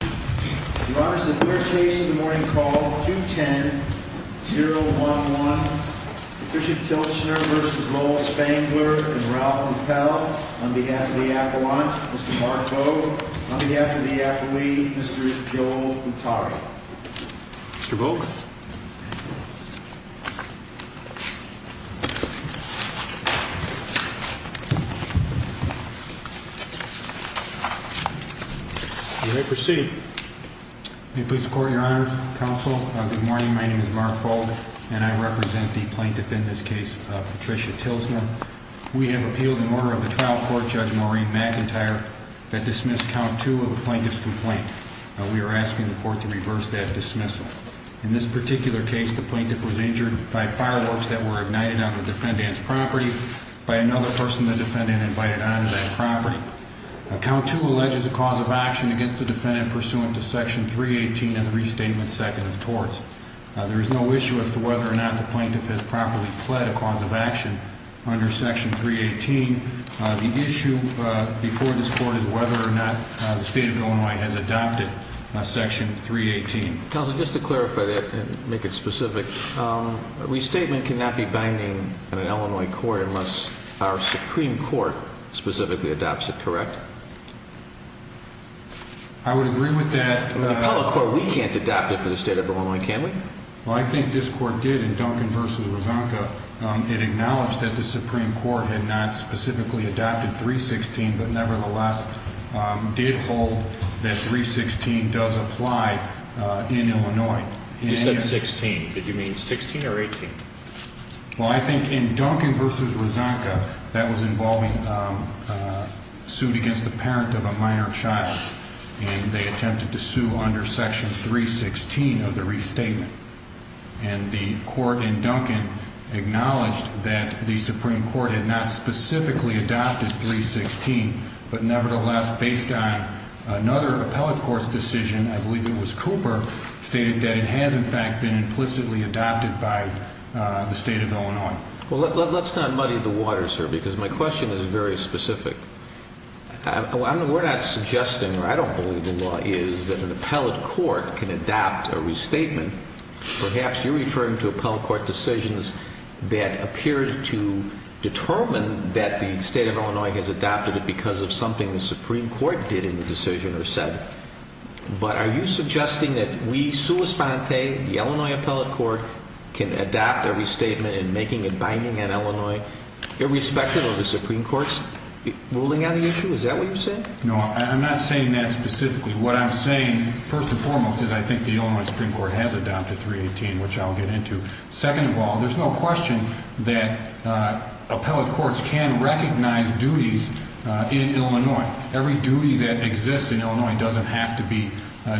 Your Honor, the third case of the morning called 210-011. Patricia Tilschner v. Lowell Spangler and Ralph Mappel on behalf of the appellant, Mr. Mark Vogt. On behalf of the appellee, Mr. Joel Mutari. Mr. Vogt. You may proceed. May it please the Court, Your Honor, Counsel, good morning. My name is Mark Vogt and I represent the plaintiff in this case, Patricia Tilschner. We have appealed an order of the trial court, Judge Maureen McIntyre, that dismissed count two of a plaintiff's complaint. We are asking the court to reverse that dismissal. In this particular case, the plaintiff was injured by fireworks that were ignited on the defendant's property by another person the defendant invited onto that property. Count two alleges a cause of action against the defendant pursuant to section 318 of the Restatement Second of Torts. There is no issue as to whether or not the plaintiff has properly pled a cause of action under section 318. The issue before this court is whether or not the State of Illinois has adopted section 318. Counsel, just to clarify that and make it specific, restatement cannot be binding in an Illinois court unless our Supreme Court specifically adopts it, correct? I would agree with that. In the appellate court, we can't adopt it for the State of Illinois, can we? Well, I think this court did in Duncan v. Rosanka. It acknowledged that the Supreme Court had not specifically adopted 316, but nevertheless did hold that 316 does apply in Illinois. You said 16. Did you mean 16 or 18? Well, I think in Duncan v. Rosanka, that was involving suit against the parent of a minor child, and they attempted to sue under section 316 of the restatement. And the court in Duncan acknowledged that the Supreme Court had not specifically adopted 316, but nevertheless, based on another appellate court's decision, I believe it was Cooper, stated that it has in fact been implicitly adopted by the State of Illinois. Well, let's not muddy the water, sir, because my question is very specific. We're not suggesting, or I don't believe the law is, that an appellate court can adopt a restatement. Perhaps you're referring to appellate court decisions that appear to determine that the State of Illinois has adopted it because of something the Supreme Court did in the decision or said. But are you suggesting that we, sua sponte, the Illinois appellate court, can adopt a restatement in making it binding on Illinois irrespective of the Supreme Court's ruling on the issue? Is that what you're saying? No, I'm not saying that specifically. What I'm saying, first and foremost, is I think the Illinois Supreme Court has adopted 318, which I'll get into. Second of all, there's no question that appellate courts can recognize duties in Illinois. Every duty that exists in Illinois doesn't have to be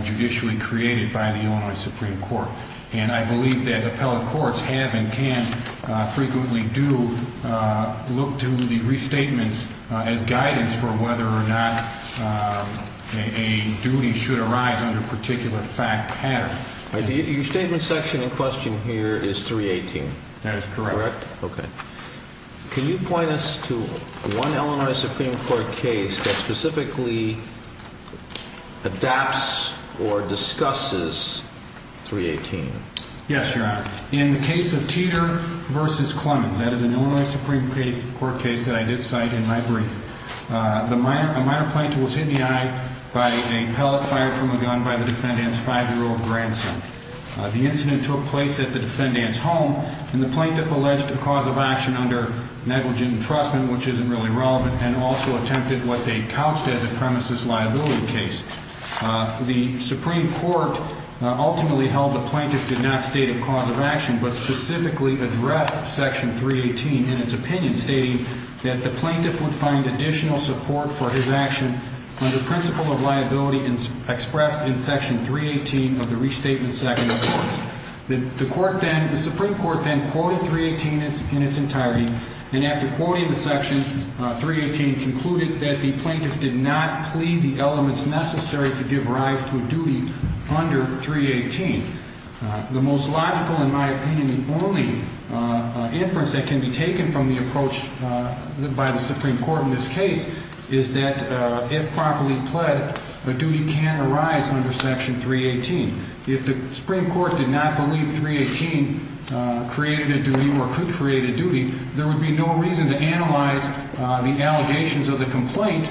judicially created by the Illinois Supreme Court. And I believe that appellate courts have and can frequently do look to the restatements as guidance for whether or not a duty should arise under a particular fact pattern. Your statement section in question here is 318. That is correct. Okay. Can you point us to one Illinois Supreme Court case that specifically adapts or discusses 318? Yes, Your Honor. In the case of Teeter v. Clemmons, that is an Illinois Supreme Court case that I did cite in my brief, a minor plaintiff was hit in the eye by a pellet fired from a gun by the defendant's five-year-old grandson. The incident took place at the defendant's home, and the plaintiff alleged a cause of action under negligent entrustment, which isn't really relevant, and also attempted what they couched as a premises liability case. The Supreme Court ultimately held the plaintiff did not state a cause of action, but specifically addressed Section 318 in its opinion, stating that the plaintiff would find additional support for his action under principle of liability expressed in Section 318 of the Restatement Second Appearance. The Supreme Court then quoted 318 in its entirety, and after quoting the Section 318, concluded that the plaintiff did not plea the elements necessary to give rise to a duty under 318. The most logical, in my opinion, the only inference that can be taken from the approach by the Supreme Court in this case is that if properly pled, a duty can arise under Section 318. If the Supreme Court did not believe 318 created a duty or could create a duty, there would be no reason to analyze the allegations of the complaint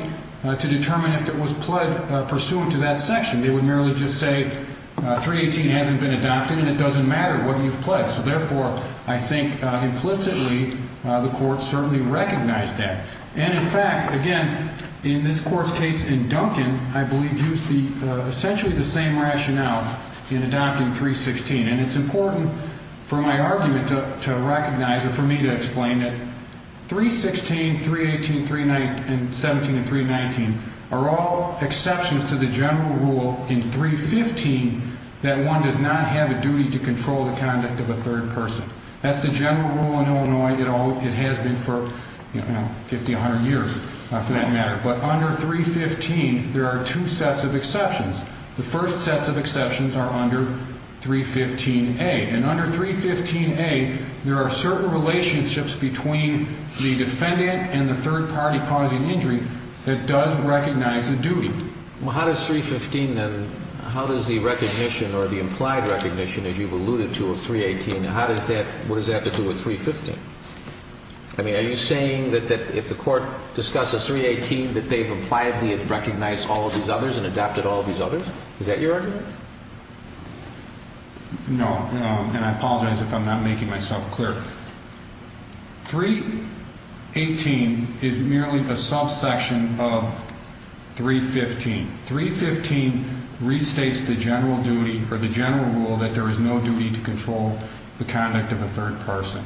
to determine if it was pled pursuant to that section. They would merely just say 318 hasn't been adopted, and it doesn't matter whether you've pled. So therefore, I think implicitly the Court certainly recognized that. And in fact, again, in this Court's case in Duncan, I believe used essentially the same rationale in adopting 316. And it's important for my argument to recognize or for me to explain that 316, 318, 17, and 319 are all exceptions to the general rule in 315 that one does not have a duty to control the conduct of a third person. That's the general rule in Illinois. It has been for 50, 100 years for that matter. But under 315, there are two sets of exceptions. The first sets of exceptions are under 315A. And under 315A, there are certain relationships between the defendant and the third party causing injury that does recognize a duty. Well, how does 315 then, how does the recognition or the implied recognition, as you've alluded to, of 318, how does that, what does that have to do with 315? I mean, are you saying that if the Court discusses 318, that they've impliedly recognized all of these others and adopted all of these others? Is that your argument? No, and I apologize if I'm not making myself clear. 318 is merely the subsection of 315. 315 restates the general duty or the general rule that there is no duty to control the conduct of a third person.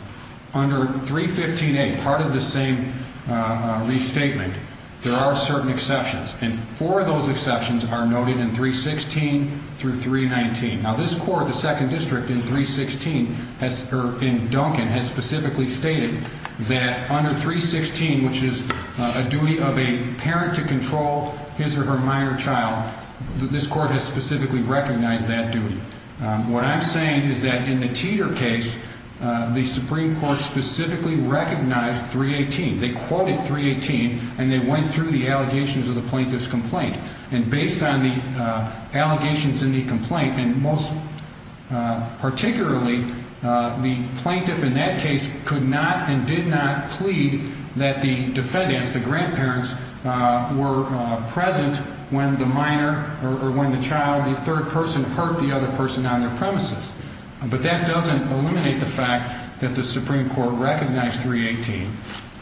Under 315A, part of the same restatement, there are certain exceptions. And four of those exceptions are noted in 316 through 319. Now, this Court, the Second District in 316, or in Duncan, has specifically stated that under 316, which is a duty of a parent to control his or her minor child, this Court has specifically recognized that duty. What I'm saying is that in the Teeter case, the Supreme Court specifically recognized 318. They quoted 318, and they went through the allegations of the plaintiff's complaint. And based on the allegations in the complaint, and most particularly, the plaintiff in that case could not and did not plead that the defendants, the grandparents, were present when the minor or when the child, the third person, hurt the other person on their premises. But that doesn't eliminate the fact that the Supreme Court recognized 318.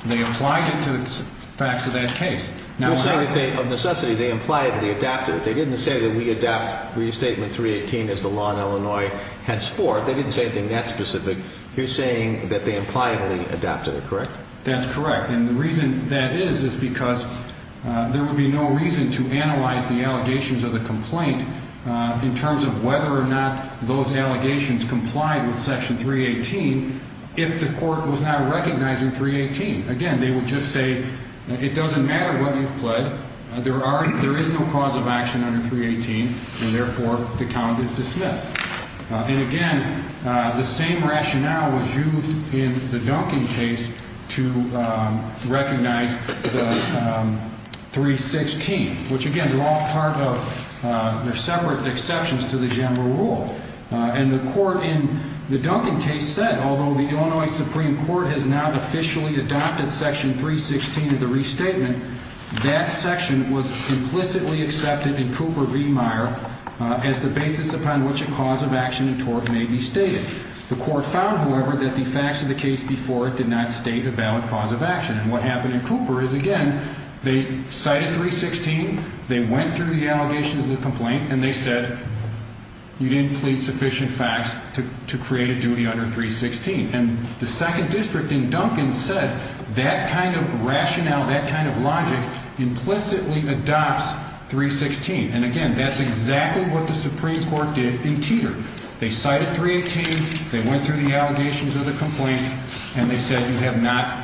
They applied it to the facts of that case. You're saying that they, of necessity, they implied that they adapted it. They didn't say that we adapt restatement 318 as the law in Illinois henceforth. They didn't say anything that specific. You're saying that they impliably adapted it, correct? That's correct. And the reason that is is because there would be no reason to analyze the allegations of the complaint in terms of whether or not those allegations complied with Section 318 if the Court was not recognizing 318. Again, they would just say, it doesn't matter what you've pled. There is no cause of action under 318, and therefore, the count is dismissed. And, again, the same rationale was used in the Duncan case to recognize 316, which, again, they're all part of separate exceptions to the general rule. And the Court in the Duncan case said, although the Illinois Supreme Court has now officially adopted Section 316 of the restatement, that section was implicitly accepted in Cooper v. Meyer as the basis upon which a cause of action in tort may be stated. The Court found, however, that the facts of the case before it did not state a valid cause of action. And what happened in Cooper is, again, they cited 316, they went through the allegations of the complaint, and they said you didn't plead sufficient facts to create a duty under 316. And the Second District in Duncan said that kind of rationale, that kind of logic implicitly adopts 316. And, again, that's exactly what the Supreme Court did in Teeter. They cited 318, they went through the allegations of the complaint, and they said you have not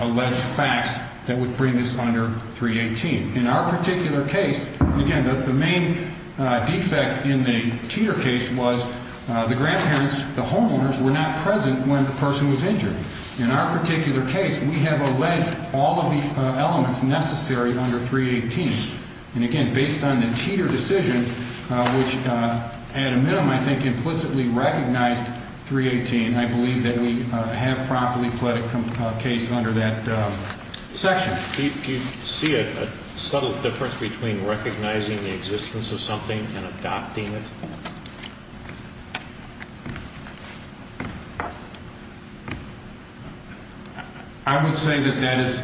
alleged facts that would bring this under 318. In our particular case, again, the main defect in the Teeter case was the grandparents, the homeowners, were not present when the person was injured. In our particular case, we have alleged all of the elements necessary under 318. And, again, based on the Teeter decision, which at a minimum, I think, implicitly recognized 318, I believe that we have properly pled a case under that section. Do you see a subtle difference between recognizing the existence of something and adopting it? I would say that that is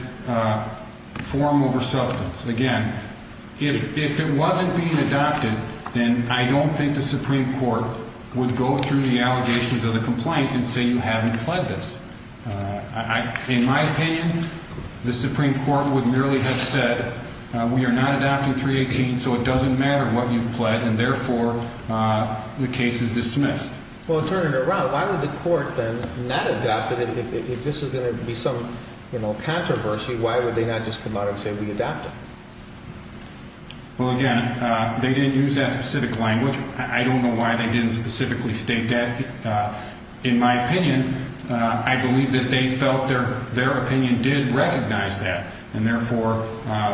form over substance. Again, if it wasn't being adopted, then I don't think the Supreme Court would go through the allegations of the complaint and say you haven't pled this. In my opinion, the Supreme Court would merely have said we are not adopting 318, so it doesn't matter what you've pled, and, therefore, the case is dismissed. Well, to turn it around, why would the court then not adopt it? If this is going to be some controversy, why would they not just come out and say we adopt it? Well, again, they didn't use that specific language. I don't know why they didn't specifically state that. In my opinion, I believe that they felt their opinion did recognize that, and, therefore,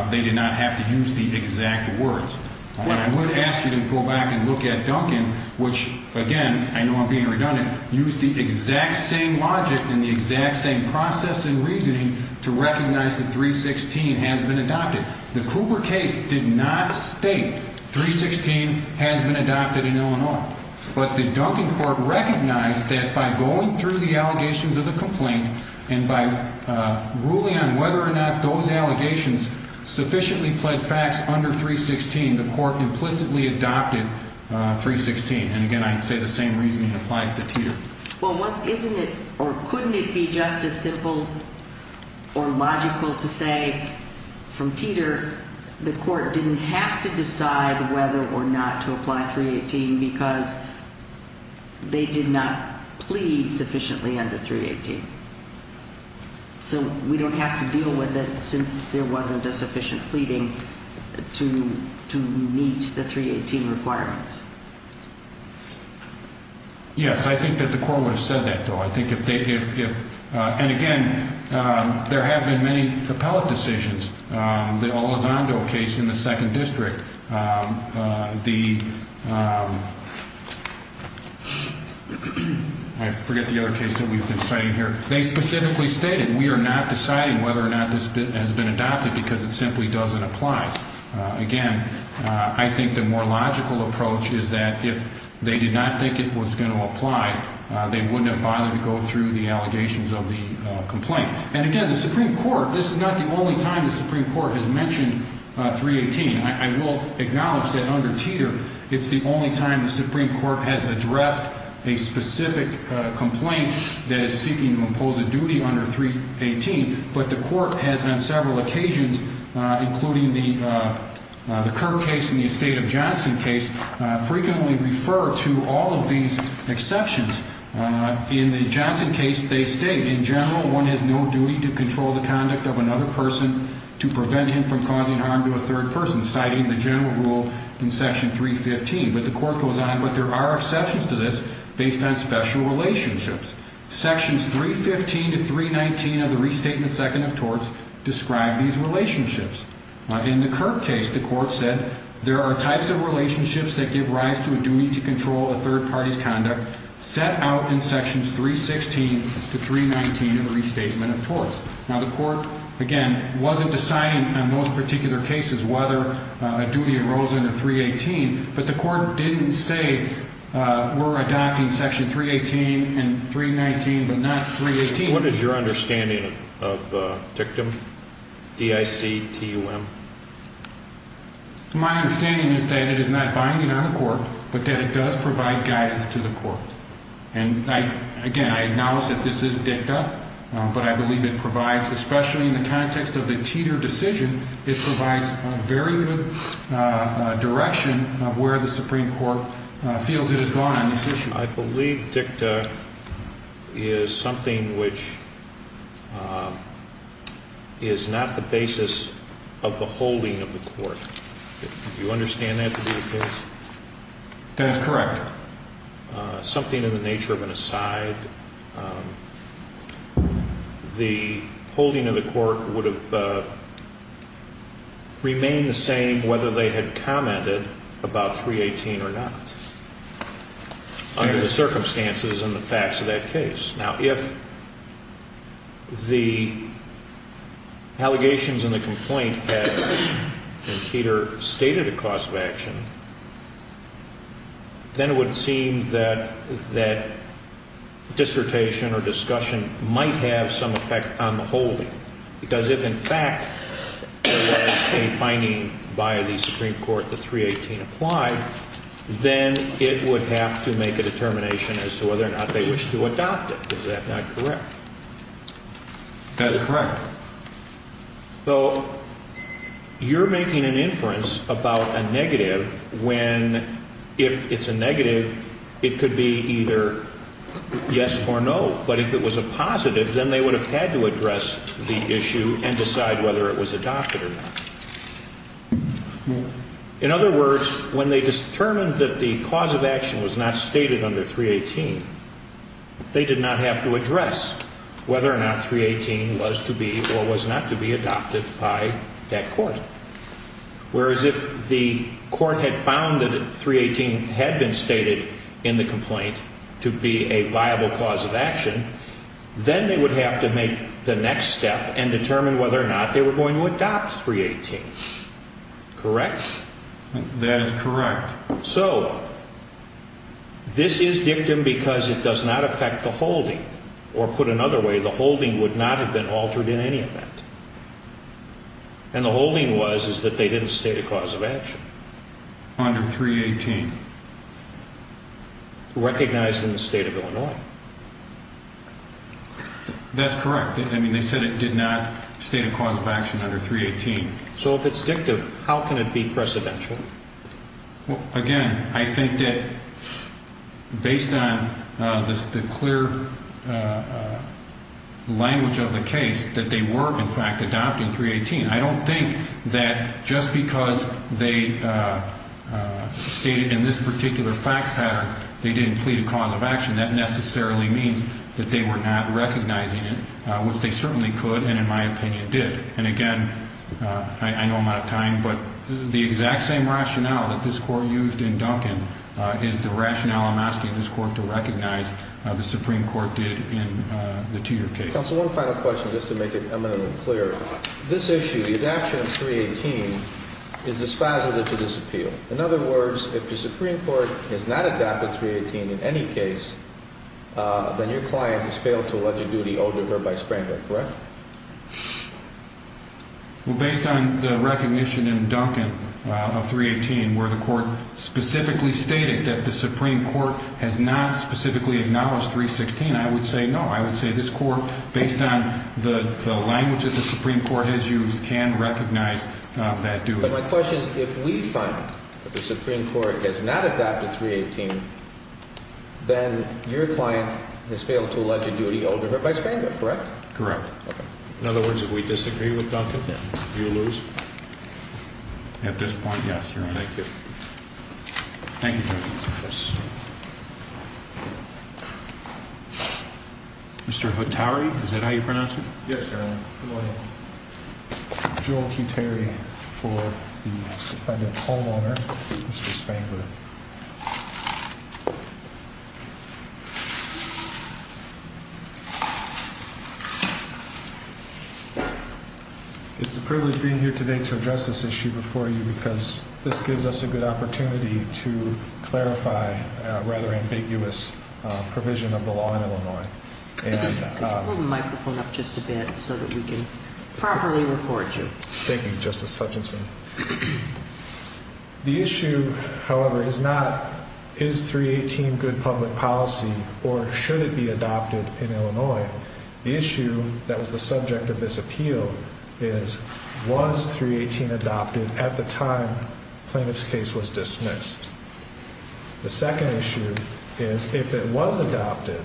they did not have to use the exact words. I would ask you to go back and look at Duncan, which, again, I know I'm being redundant, used the exact same logic and the exact same process and reasoning to recognize that 316 has been adopted. The Cooper case did not state 316 has been adopted in Illinois. But the Duncan court recognized that by going through the allegations of the complaint and by ruling on whether or not those allegations sufficiently pled facts under 316, the court implicitly adopted 316. And, again, I'd say the same reasoning applies to Teeter. Well, isn't it or couldn't it be just as simple or logical to say from Teeter the court didn't have to decide whether or not to apply 318 because they did not plead sufficiently under 318. So we don't have to deal with it since there wasn't a sufficient pleading to meet the 318 requirements. Yes, I think that the court would have said that, though. And, again, there have been many appellate decisions. The Elizondo case in the 2nd District, the I forget the other case that we've been citing here. They specifically stated we are not deciding whether or not this has been adopted because it simply doesn't apply. Again, I think the more logical approach is that if they did not think it was going to apply, they wouldn't have bothered to go through the allegations of the complaint. And, again, the Supreme Court, this is not the only time the Supreme Court has mentioned 318. But the court has on several occasions, including the Kerr case and the estate of Johnson case, frequently refer to all of these exceptions. In the Johnson case, they state, in general, one has no duty to control the conduct of another person to prevent him from causing harm to a third person, citing the general rule in Section 315. But the court goes on. But there are exceptions to this based on special relationships. Sections 315 to 319 of the Restatement Second of Torts describe these relationships. In the Kerr case, the court said there are types of relationships that give rise to a duty to control a third party's conduct set out in Sections 316 to 319 of the Restatement of Torts. Now, the court, again, wasn't deciding on those particular cases whether a duty arose under 318. But the court didn't say we're adopting Section 318 and 319, but not 318. What is your understanding of dictum, D-I-C-T-U-M? My understanding is that it is not binding on the court, but that it does provide guidance to the court. And, again, I acknowledge that this is dicta. But I believe it provides, especially in the context of the Teeter decision, it provides a very good direction of where the Supreme Court feels it has gone on this issue. I believe dicta is something which is not the basis of the holding of the court. Do you understand that to be the case? That is correct. Something in the nature of an aside. The holding of the court would have remained the same whether they had commented about 318 or not under the circumstances and the facts of that case. Now, if the allegations in the complaint had, in Teeter, stated a cause of action, then it would seem that dissertation or discussion might have some effect on the holding. Because if, in fact, there was a finding by the Supreme Court that 318 applied, then it would have to make a determination as to whether or not they wish to adopt it. Is that not correct? That is correct. So you're making an inference about a negative when, if it's a negative, it could be either yes or no. But if it was a positive, then they would have had to address the issue and decide whether it was adopted or not. In other words, when they determined that the cause of action was not stated under 318, they did not have to address whether or not 318 was to be or was not to be adopted by that court. Whereas if the court had found that 318 had been stated in the complaint to be a viable cause of action, then they would have to make the next step and determine whether or not they were going to adopt 318. Correct? That is correct. So this is dictum because it does not affect the holding. Or put another way, the holding would not have been altered in any event. And the holding was that they didn't state a cause of action. Under 318. Recognized in the state of Illinois. That's correct. I mean, they said it did not state a cause of action under 318. So if it's dictum, how can it be precedential? Again, I think that based on the clear language of the case, that they were in fact adopting 318. I don't think that just because they stated in this particular fact pattern they didn't plead a cause of action, that necessarily means that they were not recognizing it, which they certainly could and in my opinion did. And again, I know I'm out of time, but the exact same rationale that this Court used in Duncan is the rationale I'm asking this Court to recognize the Supreme Court did in the Teeter case. Counsel, one final question just to make it eminently clear. This issue, the adoption of 318, is dispositive to this appeal. In other words, if the Supreme Court has not adopted 318 in any case, then your client has failed to allege a duty owed to her by Sprankler, correct? Well, based on the recognition in Duncan of 318 where the Court specifically stated that the Supreme Court has not specifically acknowledged 316, I would say no. I would say this Court, based on the language that the Supreme Court has used, can recognize that duty. But my question is, if we find that the Supreme Court has not adopted 318, then your client has failed to allege a duty owed to her by Sprankler, correct? Correct. In other words, if we disagree with Duncan, then you lose. At this point, yes, Your Honor. Thank you. Thank you, Judge. Yes. Mr. Hotari, is that how you pronounce it? Yes, Your Honor. Joel Q. Terry for the defendant's homeowner, Mr. Sprankler. It's a privilege being here today to address this issue before you because this gives us a good opportunity to clarify a rather ambiguous provision of the law in Illinois. Could you pull the microphone up just a bit so that we can properly record you? Thank you, Justice Hutchinson. The issue, however, is not, is 318 good public policy or should it be adopted in Illinois? The issue that was the subject of this appeal is, was 318 adopted at the time the plaintiff's case was dismissed? The second issue is, if it was adopted,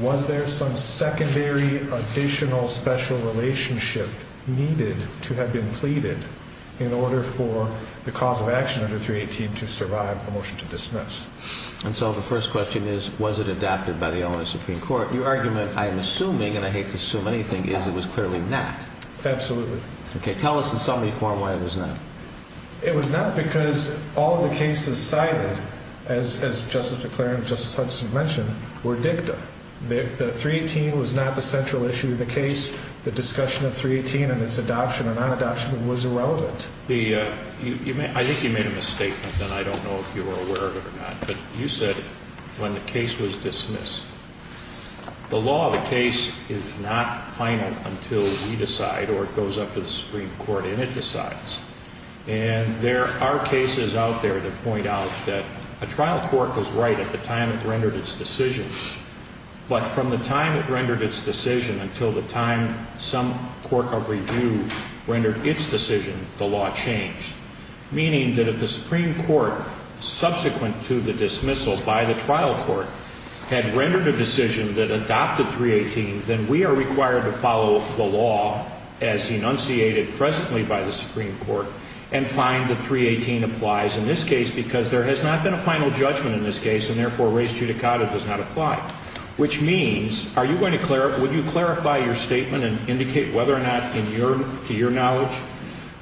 was there some secondary additional special relationship needed to have been pleaded in order for the cause of action under 318 to survive a motion to dismiss? And so the first question is, was it adopted by the Illinois Supreme Court? Your argument, I'm assuming, and I hate to assume anything, is it was clearly not. Absolutely. Okay. Tell us in some way, form, why it was not. It was not because all of the cases cited, as Justice McClaren and Justice Hutchinson mentioned, were dicta. The 318 was not the central issue of the case. The discussion of 318 and its adoption or non-adoption was irrelevant. I think you made a misstatement, and I don't know if you were aware of it or not, but you said when the case was dismissed, the law of the case is not final until we decide or it goes up to the Supreme Court and it decides. And there are cases out there that point out that a trial court was right at the time it rendered its decision, but from the time it rendered its decision until the time some court of review rendered its decision, the law changed. Meaning that if the Supreme Court, subsequent to the dismissal by the trial court, had rendered a decision that adopted 318, then we are required to follow the law as enunciated presently by the Supreme Court and find that 318 applies in this case because there has not been a final judgment in this case, and therefore res judicata does not apply. Which means, are you going to clarify, would you clarify your statement and indicate whether or not, to your knowledge,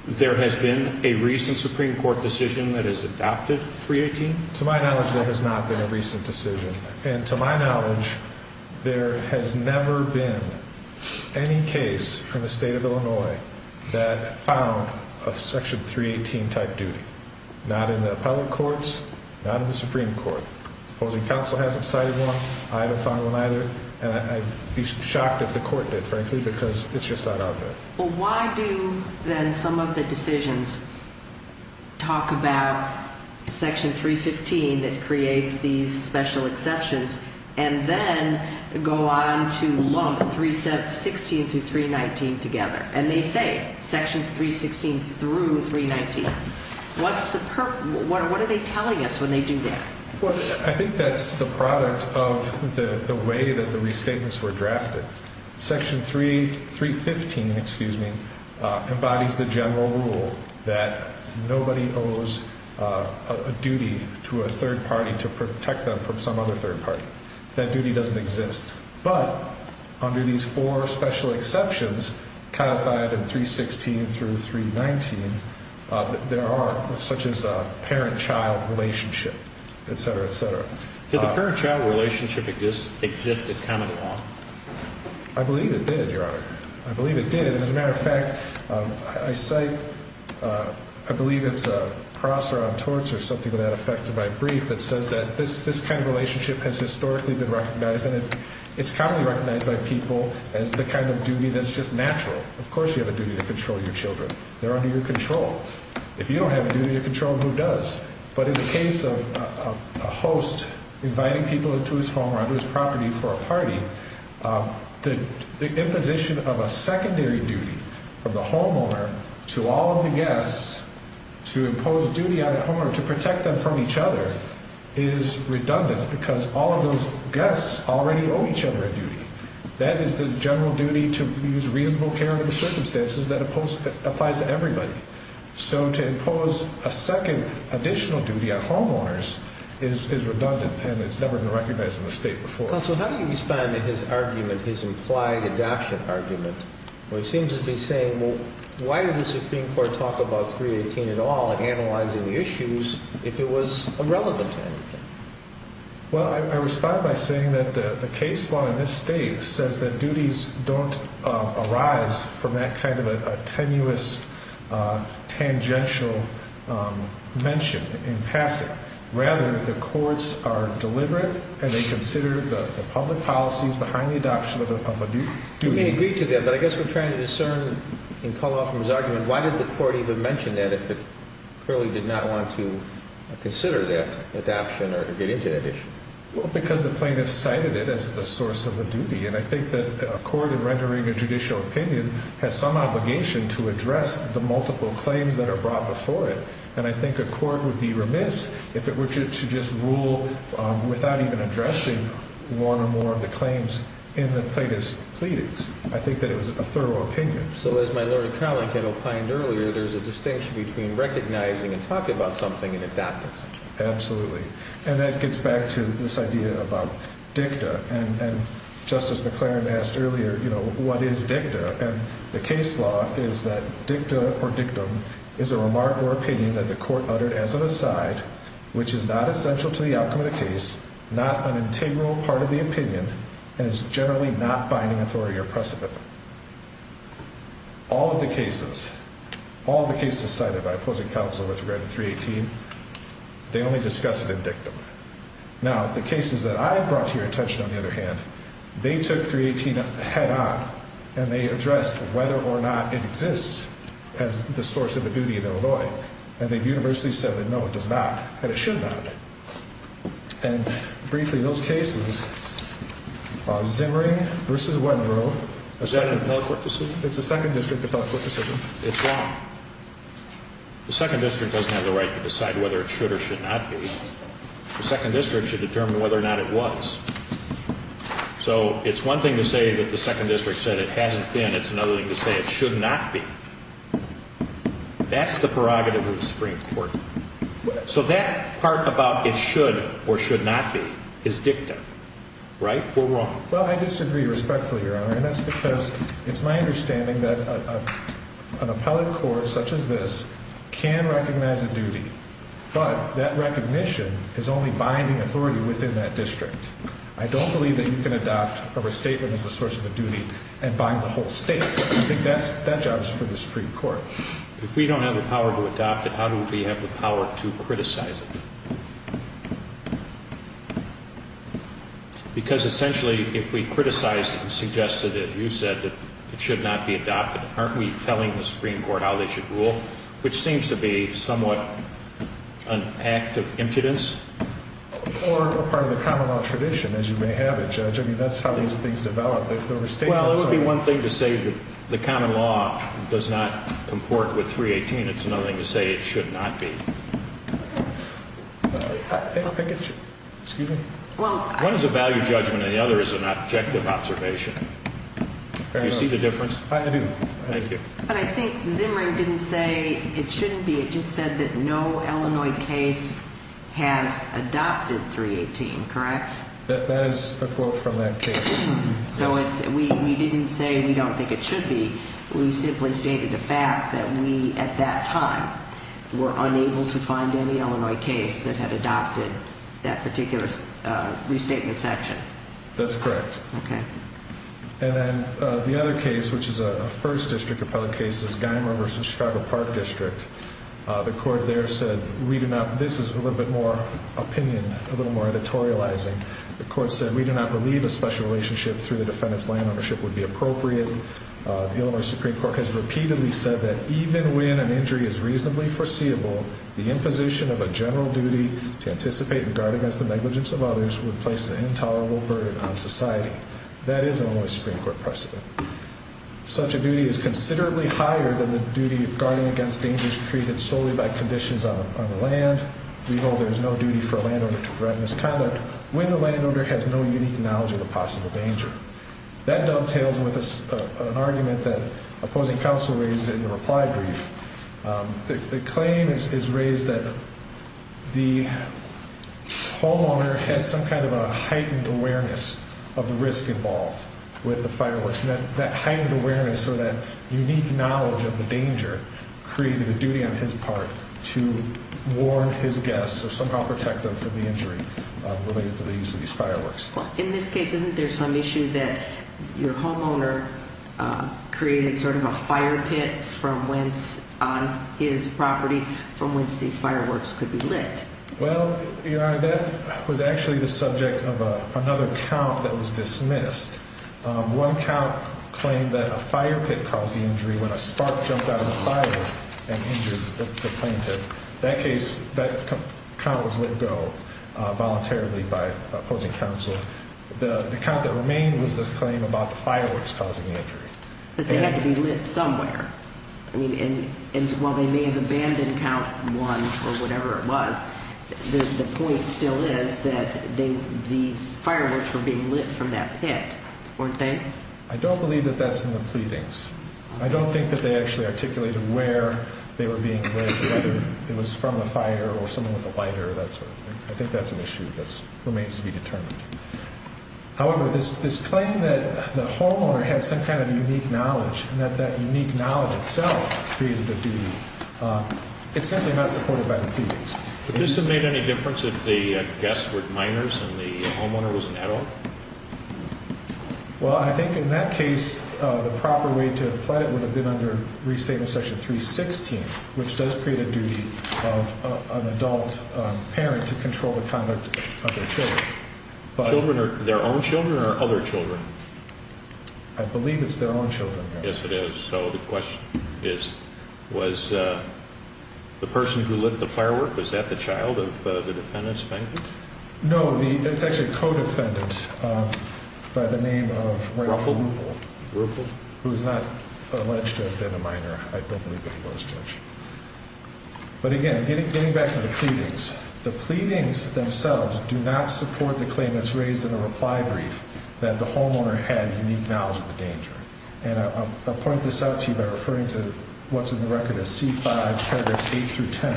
there has been a recent Supreme Court decision that has adopted 318? To my knowledge, there has not been a recent decision. And to my knowledge, there has never been any case in the state of Illinois that found a section 318 type duty. Not in the appellate courts, not in the Supreme Court. The opposing counsel hasn't cited one. I haven't found one either. And I'd be shocked if the court did, frankly, because it's just not out there. Well, why do then some of the decisions talk about section 315 that creates these special exceptions and then go on to lump 316 through 319 together? And they say sections 316 through 319. What's the purpose? What are they telling us when they do that? Well, I think that's the product of the way that the restatements were drafted. Section 315 embodies the general rule that nobody owes a duty to a third party to protect them from some other third party. That duty doesn't exist. But under these four special exceptions codified in 316 through 319, there are, such as a parent-child relationship, etc., etc. Did the parent-child relationship exist in common law? I believe it did, Your Honor. I believe it did. And as a matter of fact, I cite, I believe it's Prosser on torts or something to that effect in my brief that says that this kind of relationship has historically been recognized, and it's commonly recognized by people as the kind of duty that's just natural. Of course you have a duty to control your children. They're under your control. If you don't have a duty to control them, who does? But in the case of a host inviting people into his home or onto his property for a party, the imposition of a secondary duty from the homeowner to all of the guests to impose a duty on the homeowner to protect them from each other is redundant because all of those guests already owe each other a duty. That is the general duty to use reasonable care under the circumstances that applies to everybody. So to impose a second additional duty on homeowners is redundant, and it's never been recognized in the state before. Counsel, how do you respond to his argument, his implied adoption argument, where he seems to be saying, well, why did the Supreme Court talk about 318 at all, analyzing the issues, if it was irrelevant to anything? Well, I respond by saying that the case law in this state says that duties don't arise from that kind of a tenuous, tangential mention in passing. Rather, the courts are deliberate, and they consider the public policies behind the adoption of a duty. We may agree to that, but I guess we're trying to discern and call off from his argument, why did the court even mention that if it clearly did not want to consider that adoption or get into that issue? Well, because the plaintiff cited it as the source of the duty, and I think that a court in rendering a judicial opinion has some obligation to address the multiple claims that are brought before it. And I think a court would be remiss if it were to just rule without even addressing one or more of the claims in the plaintiff's pleadings. I think that it was a thorough opinion. So, as my learned colleague had opined earlier, there's a distinction between recognizing and talking about something and adopting something. Absolutely. And that gets back to this idea about dicta. And Justice McLaren asked earlier, you know, what is dicta? And the case law is that dicta or dictum is a remark or opinion that the court uttered as an aside, which is not essential to the outcome of the case, not an integral part of the opinion, and is generally not binding authority or precedent. All of the cases, all of the cases cited by opposing counsel with regard to 318, they only discuss it in dictum. Now, the cases that I brought to your attention, on the other hand, they took 318 head on and they addressed whether or not it exists as the source of the duty in Illinois. And they universally said that no, it does not, and it should not. And, briefly, those cases, Zimring v. Wedderow. Is that a appellate court decision? It's a second district appellate court decision. It's wrong. The second district doesn't have the right to decide whether it should or should not be. The second district should determine whether or not it was. So, it's one thing to say that the second district said it hasn't been. It's another thing to say it should not be. That's the prerogative of the Supreme Court. So, that part about it should or should not be is dictum. Right? We're wrong. Well, I disagree respectfully, Your Honor. And that's because it's my understanding that an appellate court such as this can recognize a duty. But that recognition is only binding authority within that district. I don't believe that you can adopt a restatement as a source of a duty and bind the whole state. I think that job is for the Supreme Court. If we don't have the power to adopt it, how do we have the power to criticize it? Because, essentially, if we criticize it and suggest it, as you said, that it should not be adopted, aren't we telling the Supreme Court how they should rule, which seems to be somewhat an act of impudence? Or a part of the common law tradition, as you may have it, Judge. I mean, that's how these things develop. Well, it would be one thing to say the common law does not comport with 318. It's another thing to say it should not be. One is a value judgment and the other is an objective observation. Do you see the difference? I do. Thank you. But I think Zimring didn't say it shouldn't be. It just said that no Illinois case has adopted 318, correct? That is a quote from that case. So we didn't say we don't think it should be. We simply stated the fact that we, at that time, were unable to find any Illinois case that had adopted that particular restatement section. That's correct. Okay. And then the other case, which is a first district appellate case, is Geimer v. Chicago Park District. The court there said, this is a little bit more opinion, a little more editorializing. The court said, we do not believe a special relationship through the defendant's land ownership would be appropriate. The Illinois Supreme Court has repeatedly said that even when an injury is reasonably foreseeable, the imposition of a general duty to anticipate and guard against the negligence of others would place an intolerable burden on society. That is an Illinois Supreme Court precedent. Such a duty is considerably higher than the duty of guarding against dangers created solely by conditions on the land. We know there is no duty for a landowner to prevent misconduct. When the landowner has no unique knowledge of a possible danger. That dovetails with an argument that opposing counsel raised in the reply brief. The claim is raised that the homeowner had some kind of a heightened awareness of the risk involved with the fireworks. That heightened awareness or that unique knowledge of the danger created a duty on his part to warn his guests or somehow protect them from the injury related to the use of these fireworks. In this case, isn't there some issue that your homeowner created sort of a fire pit on his property from which these fireworks could be lit? Well, Your Honor, that was actually the subject of another count that was dismissed. One count claimed that a fire pit caused the injury when a spark jumped out of the fire and injured the plaintiff. That case, that count was let go voluntarily by opposing counsel. The count that remained was this claim about the fireworks causing the injury. But they had to be lit somewhere. And while they may have abandoned count one or whatever it was, the point still is that these fireworks were being lit from that pit, weren't they? I don't believe that that's in the pleadings. I don't think that they actually articulated where they were being lit, whether it was from a fire or someone with a lighter or that sort of thing. I think that's an issue that remains to be determined. However, this claim that the homeowner had some kind of unique knowledge and that that unique knowledge itself created the duty, it's simply not supported by the pleadings. Would this have made any difference if the guests were minors and the homeowner was an adult? Well, I think in that case, the proper way to apply it would have been under Restatement Section 316, which does create a duty of an adult parent to control the conduct of their children. Children, their own children or other children? I believe it's their own children. Yes, it is. So the question is, was the person who lit the firework, was that the child of the defendant's bank? No, it's actually a co-defendant by the name of Ruffal, who is not alleged to have been a minor. I don't believe it was, Judge. But again, getting back to the pleadings, the pleadings themselves do not support the claim that's raised in the reply brief that the homeowner had unique knowledge of the danger. And I'll point this out to you by referring to what's in the record as C5, paragraphs 8 through 10.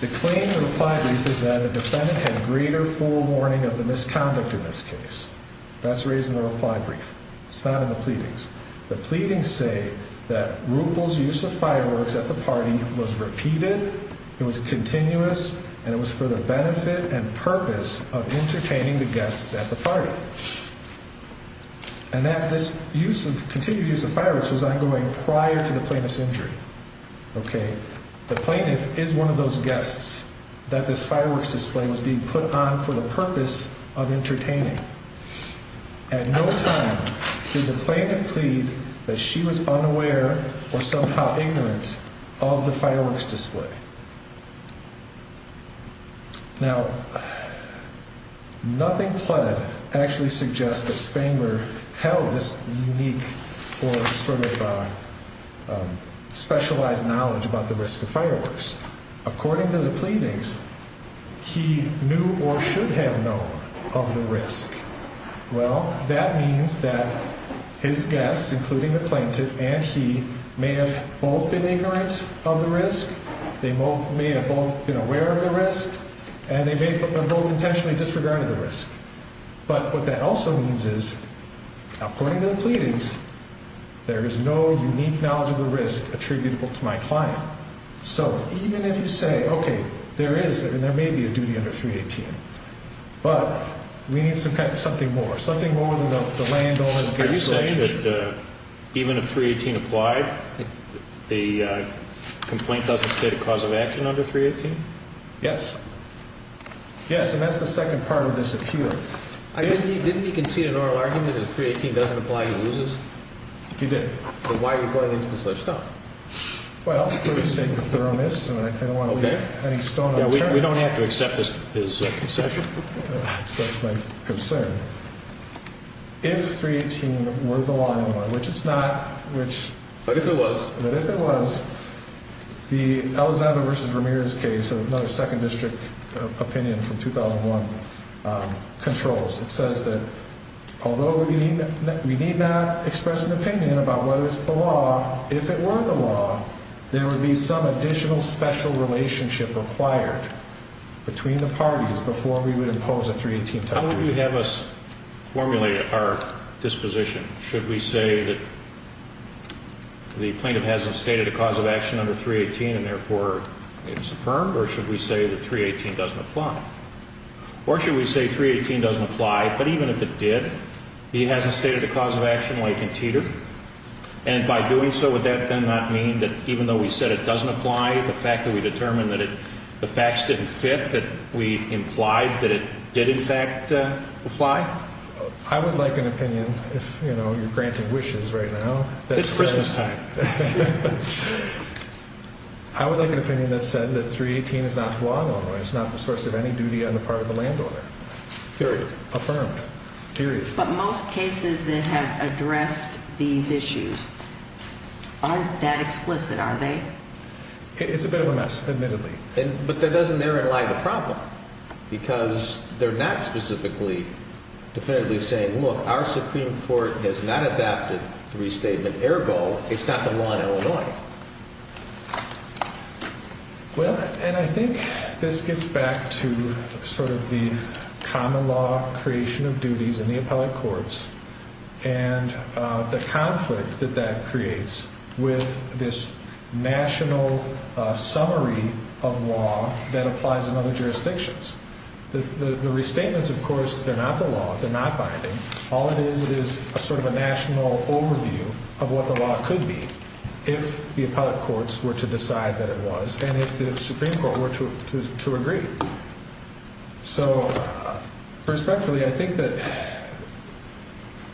The claim in the reply brief is that the defendant had greater forewarning of the misconduct in this case. That's raised in the reply brief. It's not in the pleadings. The pleadings say that Ruffal's use of fireworks at the party was repeated, it was continuous, and it was for the benefit and purpose of entertaining the guests at the party. And that this use of continued use of fireworks was ongoing prior to the plaintiff's injury. The plaintiff is one of those guests that this fireworks display was being put on for the purpose of entertaining. At no time did the plaintiff plead that she was unaware or somehow ignorant of the fireworks display. Now, nothing pled actually suggests that Spangler held this unique or sort of specialized knowledge about the risk of fireworks. According to the pleadings, he knew or should have known of the risk. Well, that means that his guests, including the plaintiff and he, may have both been ignorant of the risk. They may have both been aware of the risk, and they may have both intentionally disregarded the risk. But what that also means is, according to the pleadings, there is no unique knowledge of the risk attributable to my client. So, even if you say, okay, there is, and there may be a duty under 318, but we need something more, something more than the landowner. Are you saying that even if 318 applied, the complaint doesn't state a cause of action under 318? Yes. Yes, and that's the second part of this appeal. Didn't he concede an oral argument that if 318 doesn't apply, he loses? He did. Then why are you going into this lifestyle? Well, for the sake of thoroughness, and I don't want to leave any stone unturned. Yeah, we don't have to accept his concession. That's my concern. If 318 were the law, which it's not, which... But if it was. But if it was, the Alexander v. Ramirez case, another 2nd District opinion from 2001, controls. It says that although we need not express an opinion about whether it's the law, if it were the law, there would be some additional special relationship required between the parties before we would impose a 318 type of... How would you have us formulate our disposition? Should we say that the plaintiff hasn't stated a cause of action under 318, and therefore it's affirmed? Or should we say that 318 doesn't apply? Or should we say 318 doesn't apply, but even if it did, he hasn't stated a cause of action like in Teeter? And by doing so, would that then not mean that even though we said it doesn't apply, the fact that we determined that the facts didn't fit, that we implied that it did in fact apply? I would like an opinion, if, you know, you're granting wishes right now... It's Christmas time. I would like an opinion that said that 318 is not the law of Illinois. It's not the source of any duty on the part of the landowner. Affirmed. Period. But most cases that have addressed these issues aren't that explicit, are they? It's a bit of a mess, admittedly. But that doesn't narrow the problem, because they're not specifically, definitively saying, look, our Supreme Court has not adapted the restatement. Ergo, it's not the law in Illinois. Well, and I think this gets back to sort of the common law creation of duties in the appellate courts and the conflict that that creates with this national summary of law that applies in other jurisdictions. The restatements, of course, they're not the law. They're not binding. All it is is sort of a national overview of what the law could be if the appellate courts were to decide that it was and if the Supreme Court were to agree. So, respectfully, I think that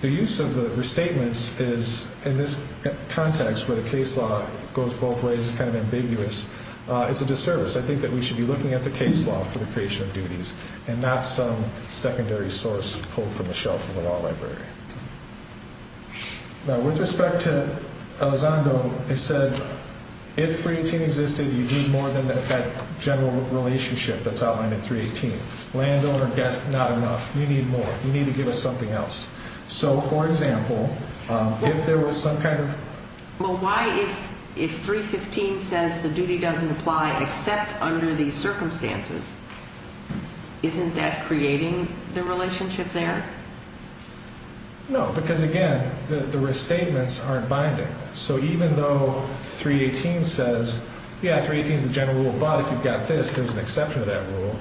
the use of the restatements is, in this context where the case law goes both ways, kind of ambiguous, it's a disservice. I think that we should be looking at the case law for the creation of duties and not some secondary source pulled from the shelf of the law library. Now, with respect to Elizondo, it said, if 318 existed, you'd need more than that general relationship that's outlined in 318. Landowner, guest, not enough. You need more. You need to give us something else. So, for example, if there was some kind of... Well, why, if 315 says the duty doesn't apply except under these circumstances, isn't that creating the relationship there? No, because, again, the restatements aren't binding. So, even though 318 says, yeah, 318 is the general rule, but if you've got this, there's an exception to that rule,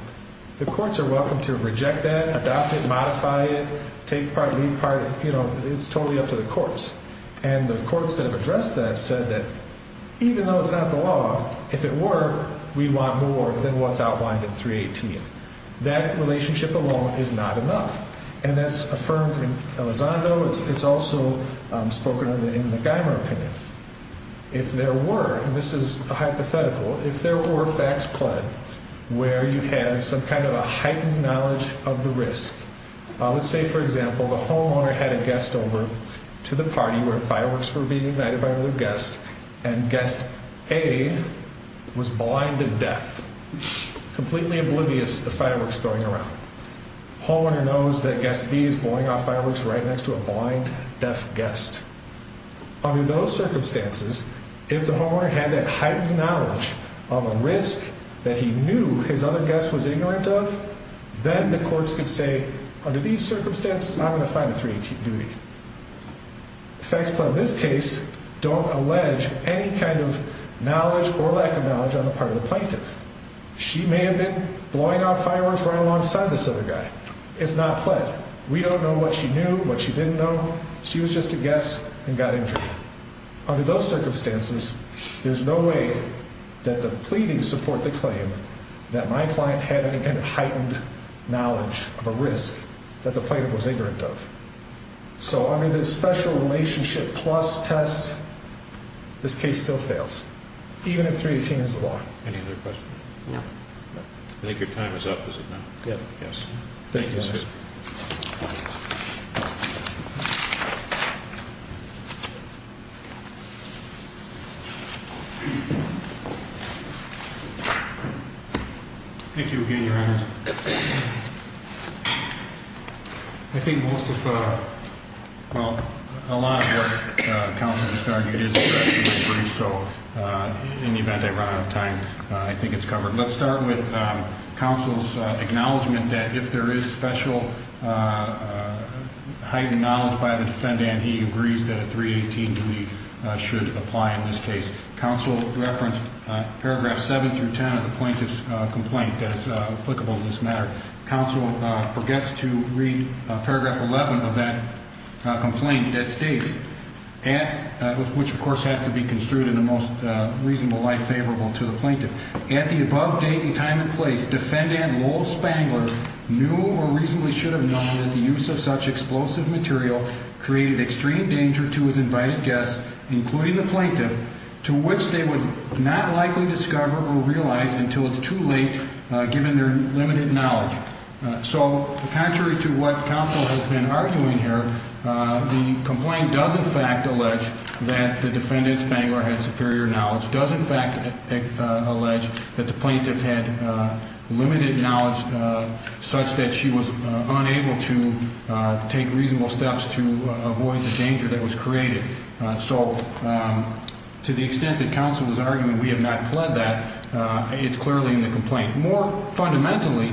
the courts are welcome to reject that, adopt it, modify it, take part, leave part. You know, it's totally up to the courts. And the courts that have addressed that said that, even though it's not the law, if it were, we'd want more than what's outlined in 318. That relationship alone is not enough. And that's affirmed in Elizondo. It's also spoken of in the Geimer opinion. If there were, and this is hypothetical, if there were facts pled where you had some kind of a heightened knowledge of the risk. Let's say, for example, the homeowner had a guest over to the party where fireworks were being ignited by another guest, and guest A was blind and deaf, completely oblivious to the fireworks going around. Homeowner knows that guest B is blowing off fireworks right next to a blind, deaf guest. Under those circumstances, if the homeowner had that heightened knowledge of a risk that he knew his other guest was ignorant of, then the courts could say, under these circumstances, I'm going to find a 318 duty. Facts pled in this case don't allege any kind of knowledge or lack of knowledge on the part of the plaintiff. She may have been blowing off fireworks right alongside this other guy. It's not pled. We don't know what she knew, what she didn't know. She was just a guest and got injured. Under those circumstances, there's no way that the pleadings support the claim that my client had any kind of heightened knowledge of a risk that the plaintiff was ignorant of. So under this special relationship plus test, this case still fails, even if 318 is the law. Any other questions? No. I think your time is up, is it not? Yes. Thank you, Your Honor. Thank you again, Your Honor. I think most of, well, a lot of what counsel just argued is addressed in this brief, so in the event I run out of time, I think it's covered. Let's start with counsel's acknowledgement that if there is special heightened knowledge by the defendant, he agrees that a 318 duty should apply in this case. Counsel referenced paragraph 7 through 10 of the plaintiff's complaint that's applicable in this matter. Counsel forgets to read paragraph 11 of that complaint that states, which, of course, has to be construed in the most reasonable light favorable to the plaintiff. At the above date and time and place, defendant Lowell Spangler knew or reasonably should have known that the use of such explosive material created extreme danger to his invited guests, including the plaintiff, to which they would not likely discover or realize until it's too late, given their limited knowledge. So contrary to what counsel has been arguing here, the complaint does in fact allege that the defendant Spangler had superior knowledge, does in fact allege that the plaintiff had limited knowledge such that she was unable to take reasonable steps to avoid the danger that was created. So to the extent that counsel is arguing we have not pled that, it's clearly in the complaint. More fundamentally,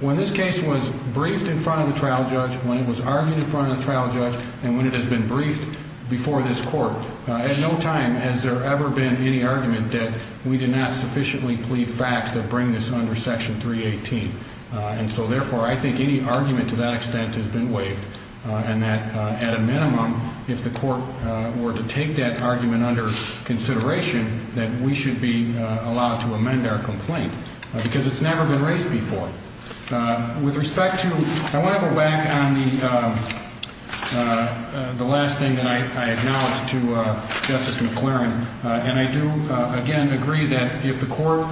when this case was briefed in front of the trial judge, when it was argued in front of the trial judge, and when it has been briefed before this court, at no time has there ever been any argument that we did not sufficiently plead facts that bring this under section 318. And so therefore I think any argument to that extent has been waived, and that at a minimum, if the court were to take that argument under consideration, that we should be allowed to amend our complaint, because it's never been raised before. With respect to – I want to go back on the last thing that I acknowledged to Justice McLaren, and I do, again, agree that if the court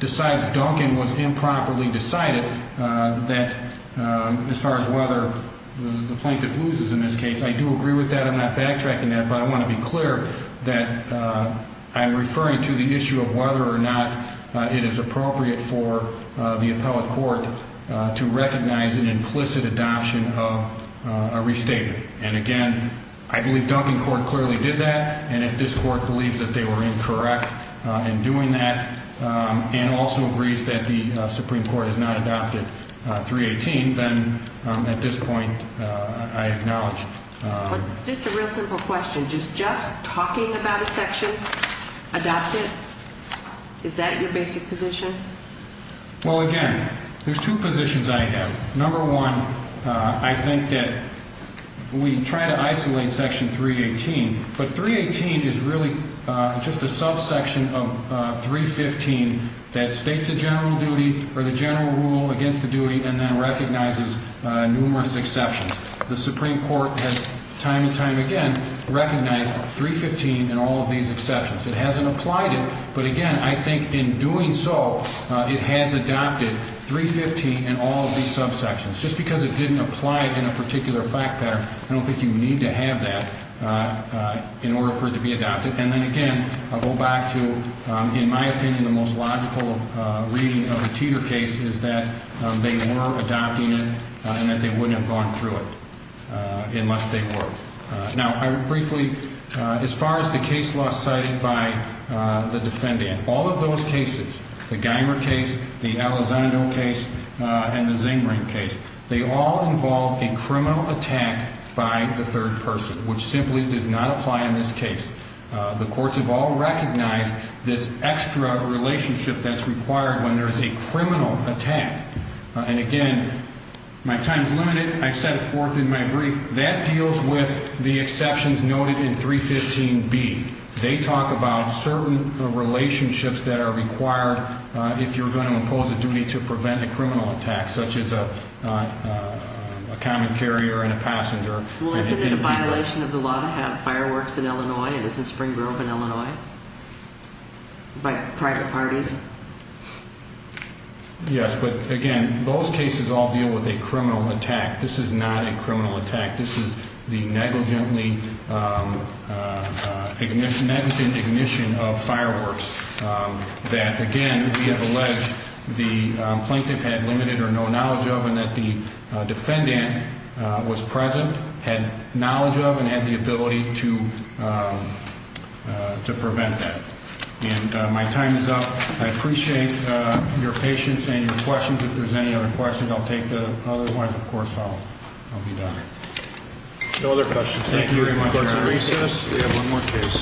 decides Duncan was improperly decided, that as far as whether the plaintiff loses in this case, I do agree with that. I'm not backtracking that, but I want to be clear that I'm referring to the issue of whether or not it is appropriate for the appellate court to recognize an implicit adoption of a restatement. And again, I believe Duncan Court clearly did that, and if this court believes that they were incorrect in doing that, and also agrees that the Supreme Court has not adopted 318, then at this point, I acknowledge – Just a real simple question. Just talking about a section adopted, is that your basic position? Well, again, there's two positions I have. Number one, I think that we try to isolate Section 318, but 318 is really just a subsection of 315 that states a general duty or the general rule against the duty and then recognizes numerous exceptions. The Supreme Court has time and time again recognized 315 and all of these exceptions. It hasn't applied it, but again, I think in doing so, it has adopted 315 in all of these subsections. Just because it didn't apply in a particular fact pattern, I don't think you need to have that in order for it to be adopted. And then again, I'll go back to, in my opinion, the most logical reading of a Teeter case is that they were adopting it and that they wouldn't have gone through it unless they were. Now, briefly, as far as the case law cited by the defendant, all of those cases, the Geimer case, the Elizondo case, and the Zingring case, they all involve a criminal attack by the third person, which simply does not apply in this case. The courts have all recognized this extra relationship that's required when there's a criminal attack. And again, my time's limited. I set it forth in my brief. That deals with the exceptions noted in 315B. They talk about certain relationships that are required if you're going to impose a duty to prevent a criminal attack, such as a common carrier and a passenger. Well, isn't it a violation of the law to have fireworks in Illinois? Isn't Spring Grove in Illinois? By private parties? Yes, but again, those cases all deal with a criminal attack. This is not a criminal attack. This is the negligent ignition of fireworks that, again, we have alleged the plaintiff had limited or no knowledge of and that the defendant was present, had knowledge of, and had the ability to prevent that. And my time is up. I appreciate your patience and your questions. If there's any other questions, I'll take the other ones. Of course, I'll be done. No other questions. Thank you very much.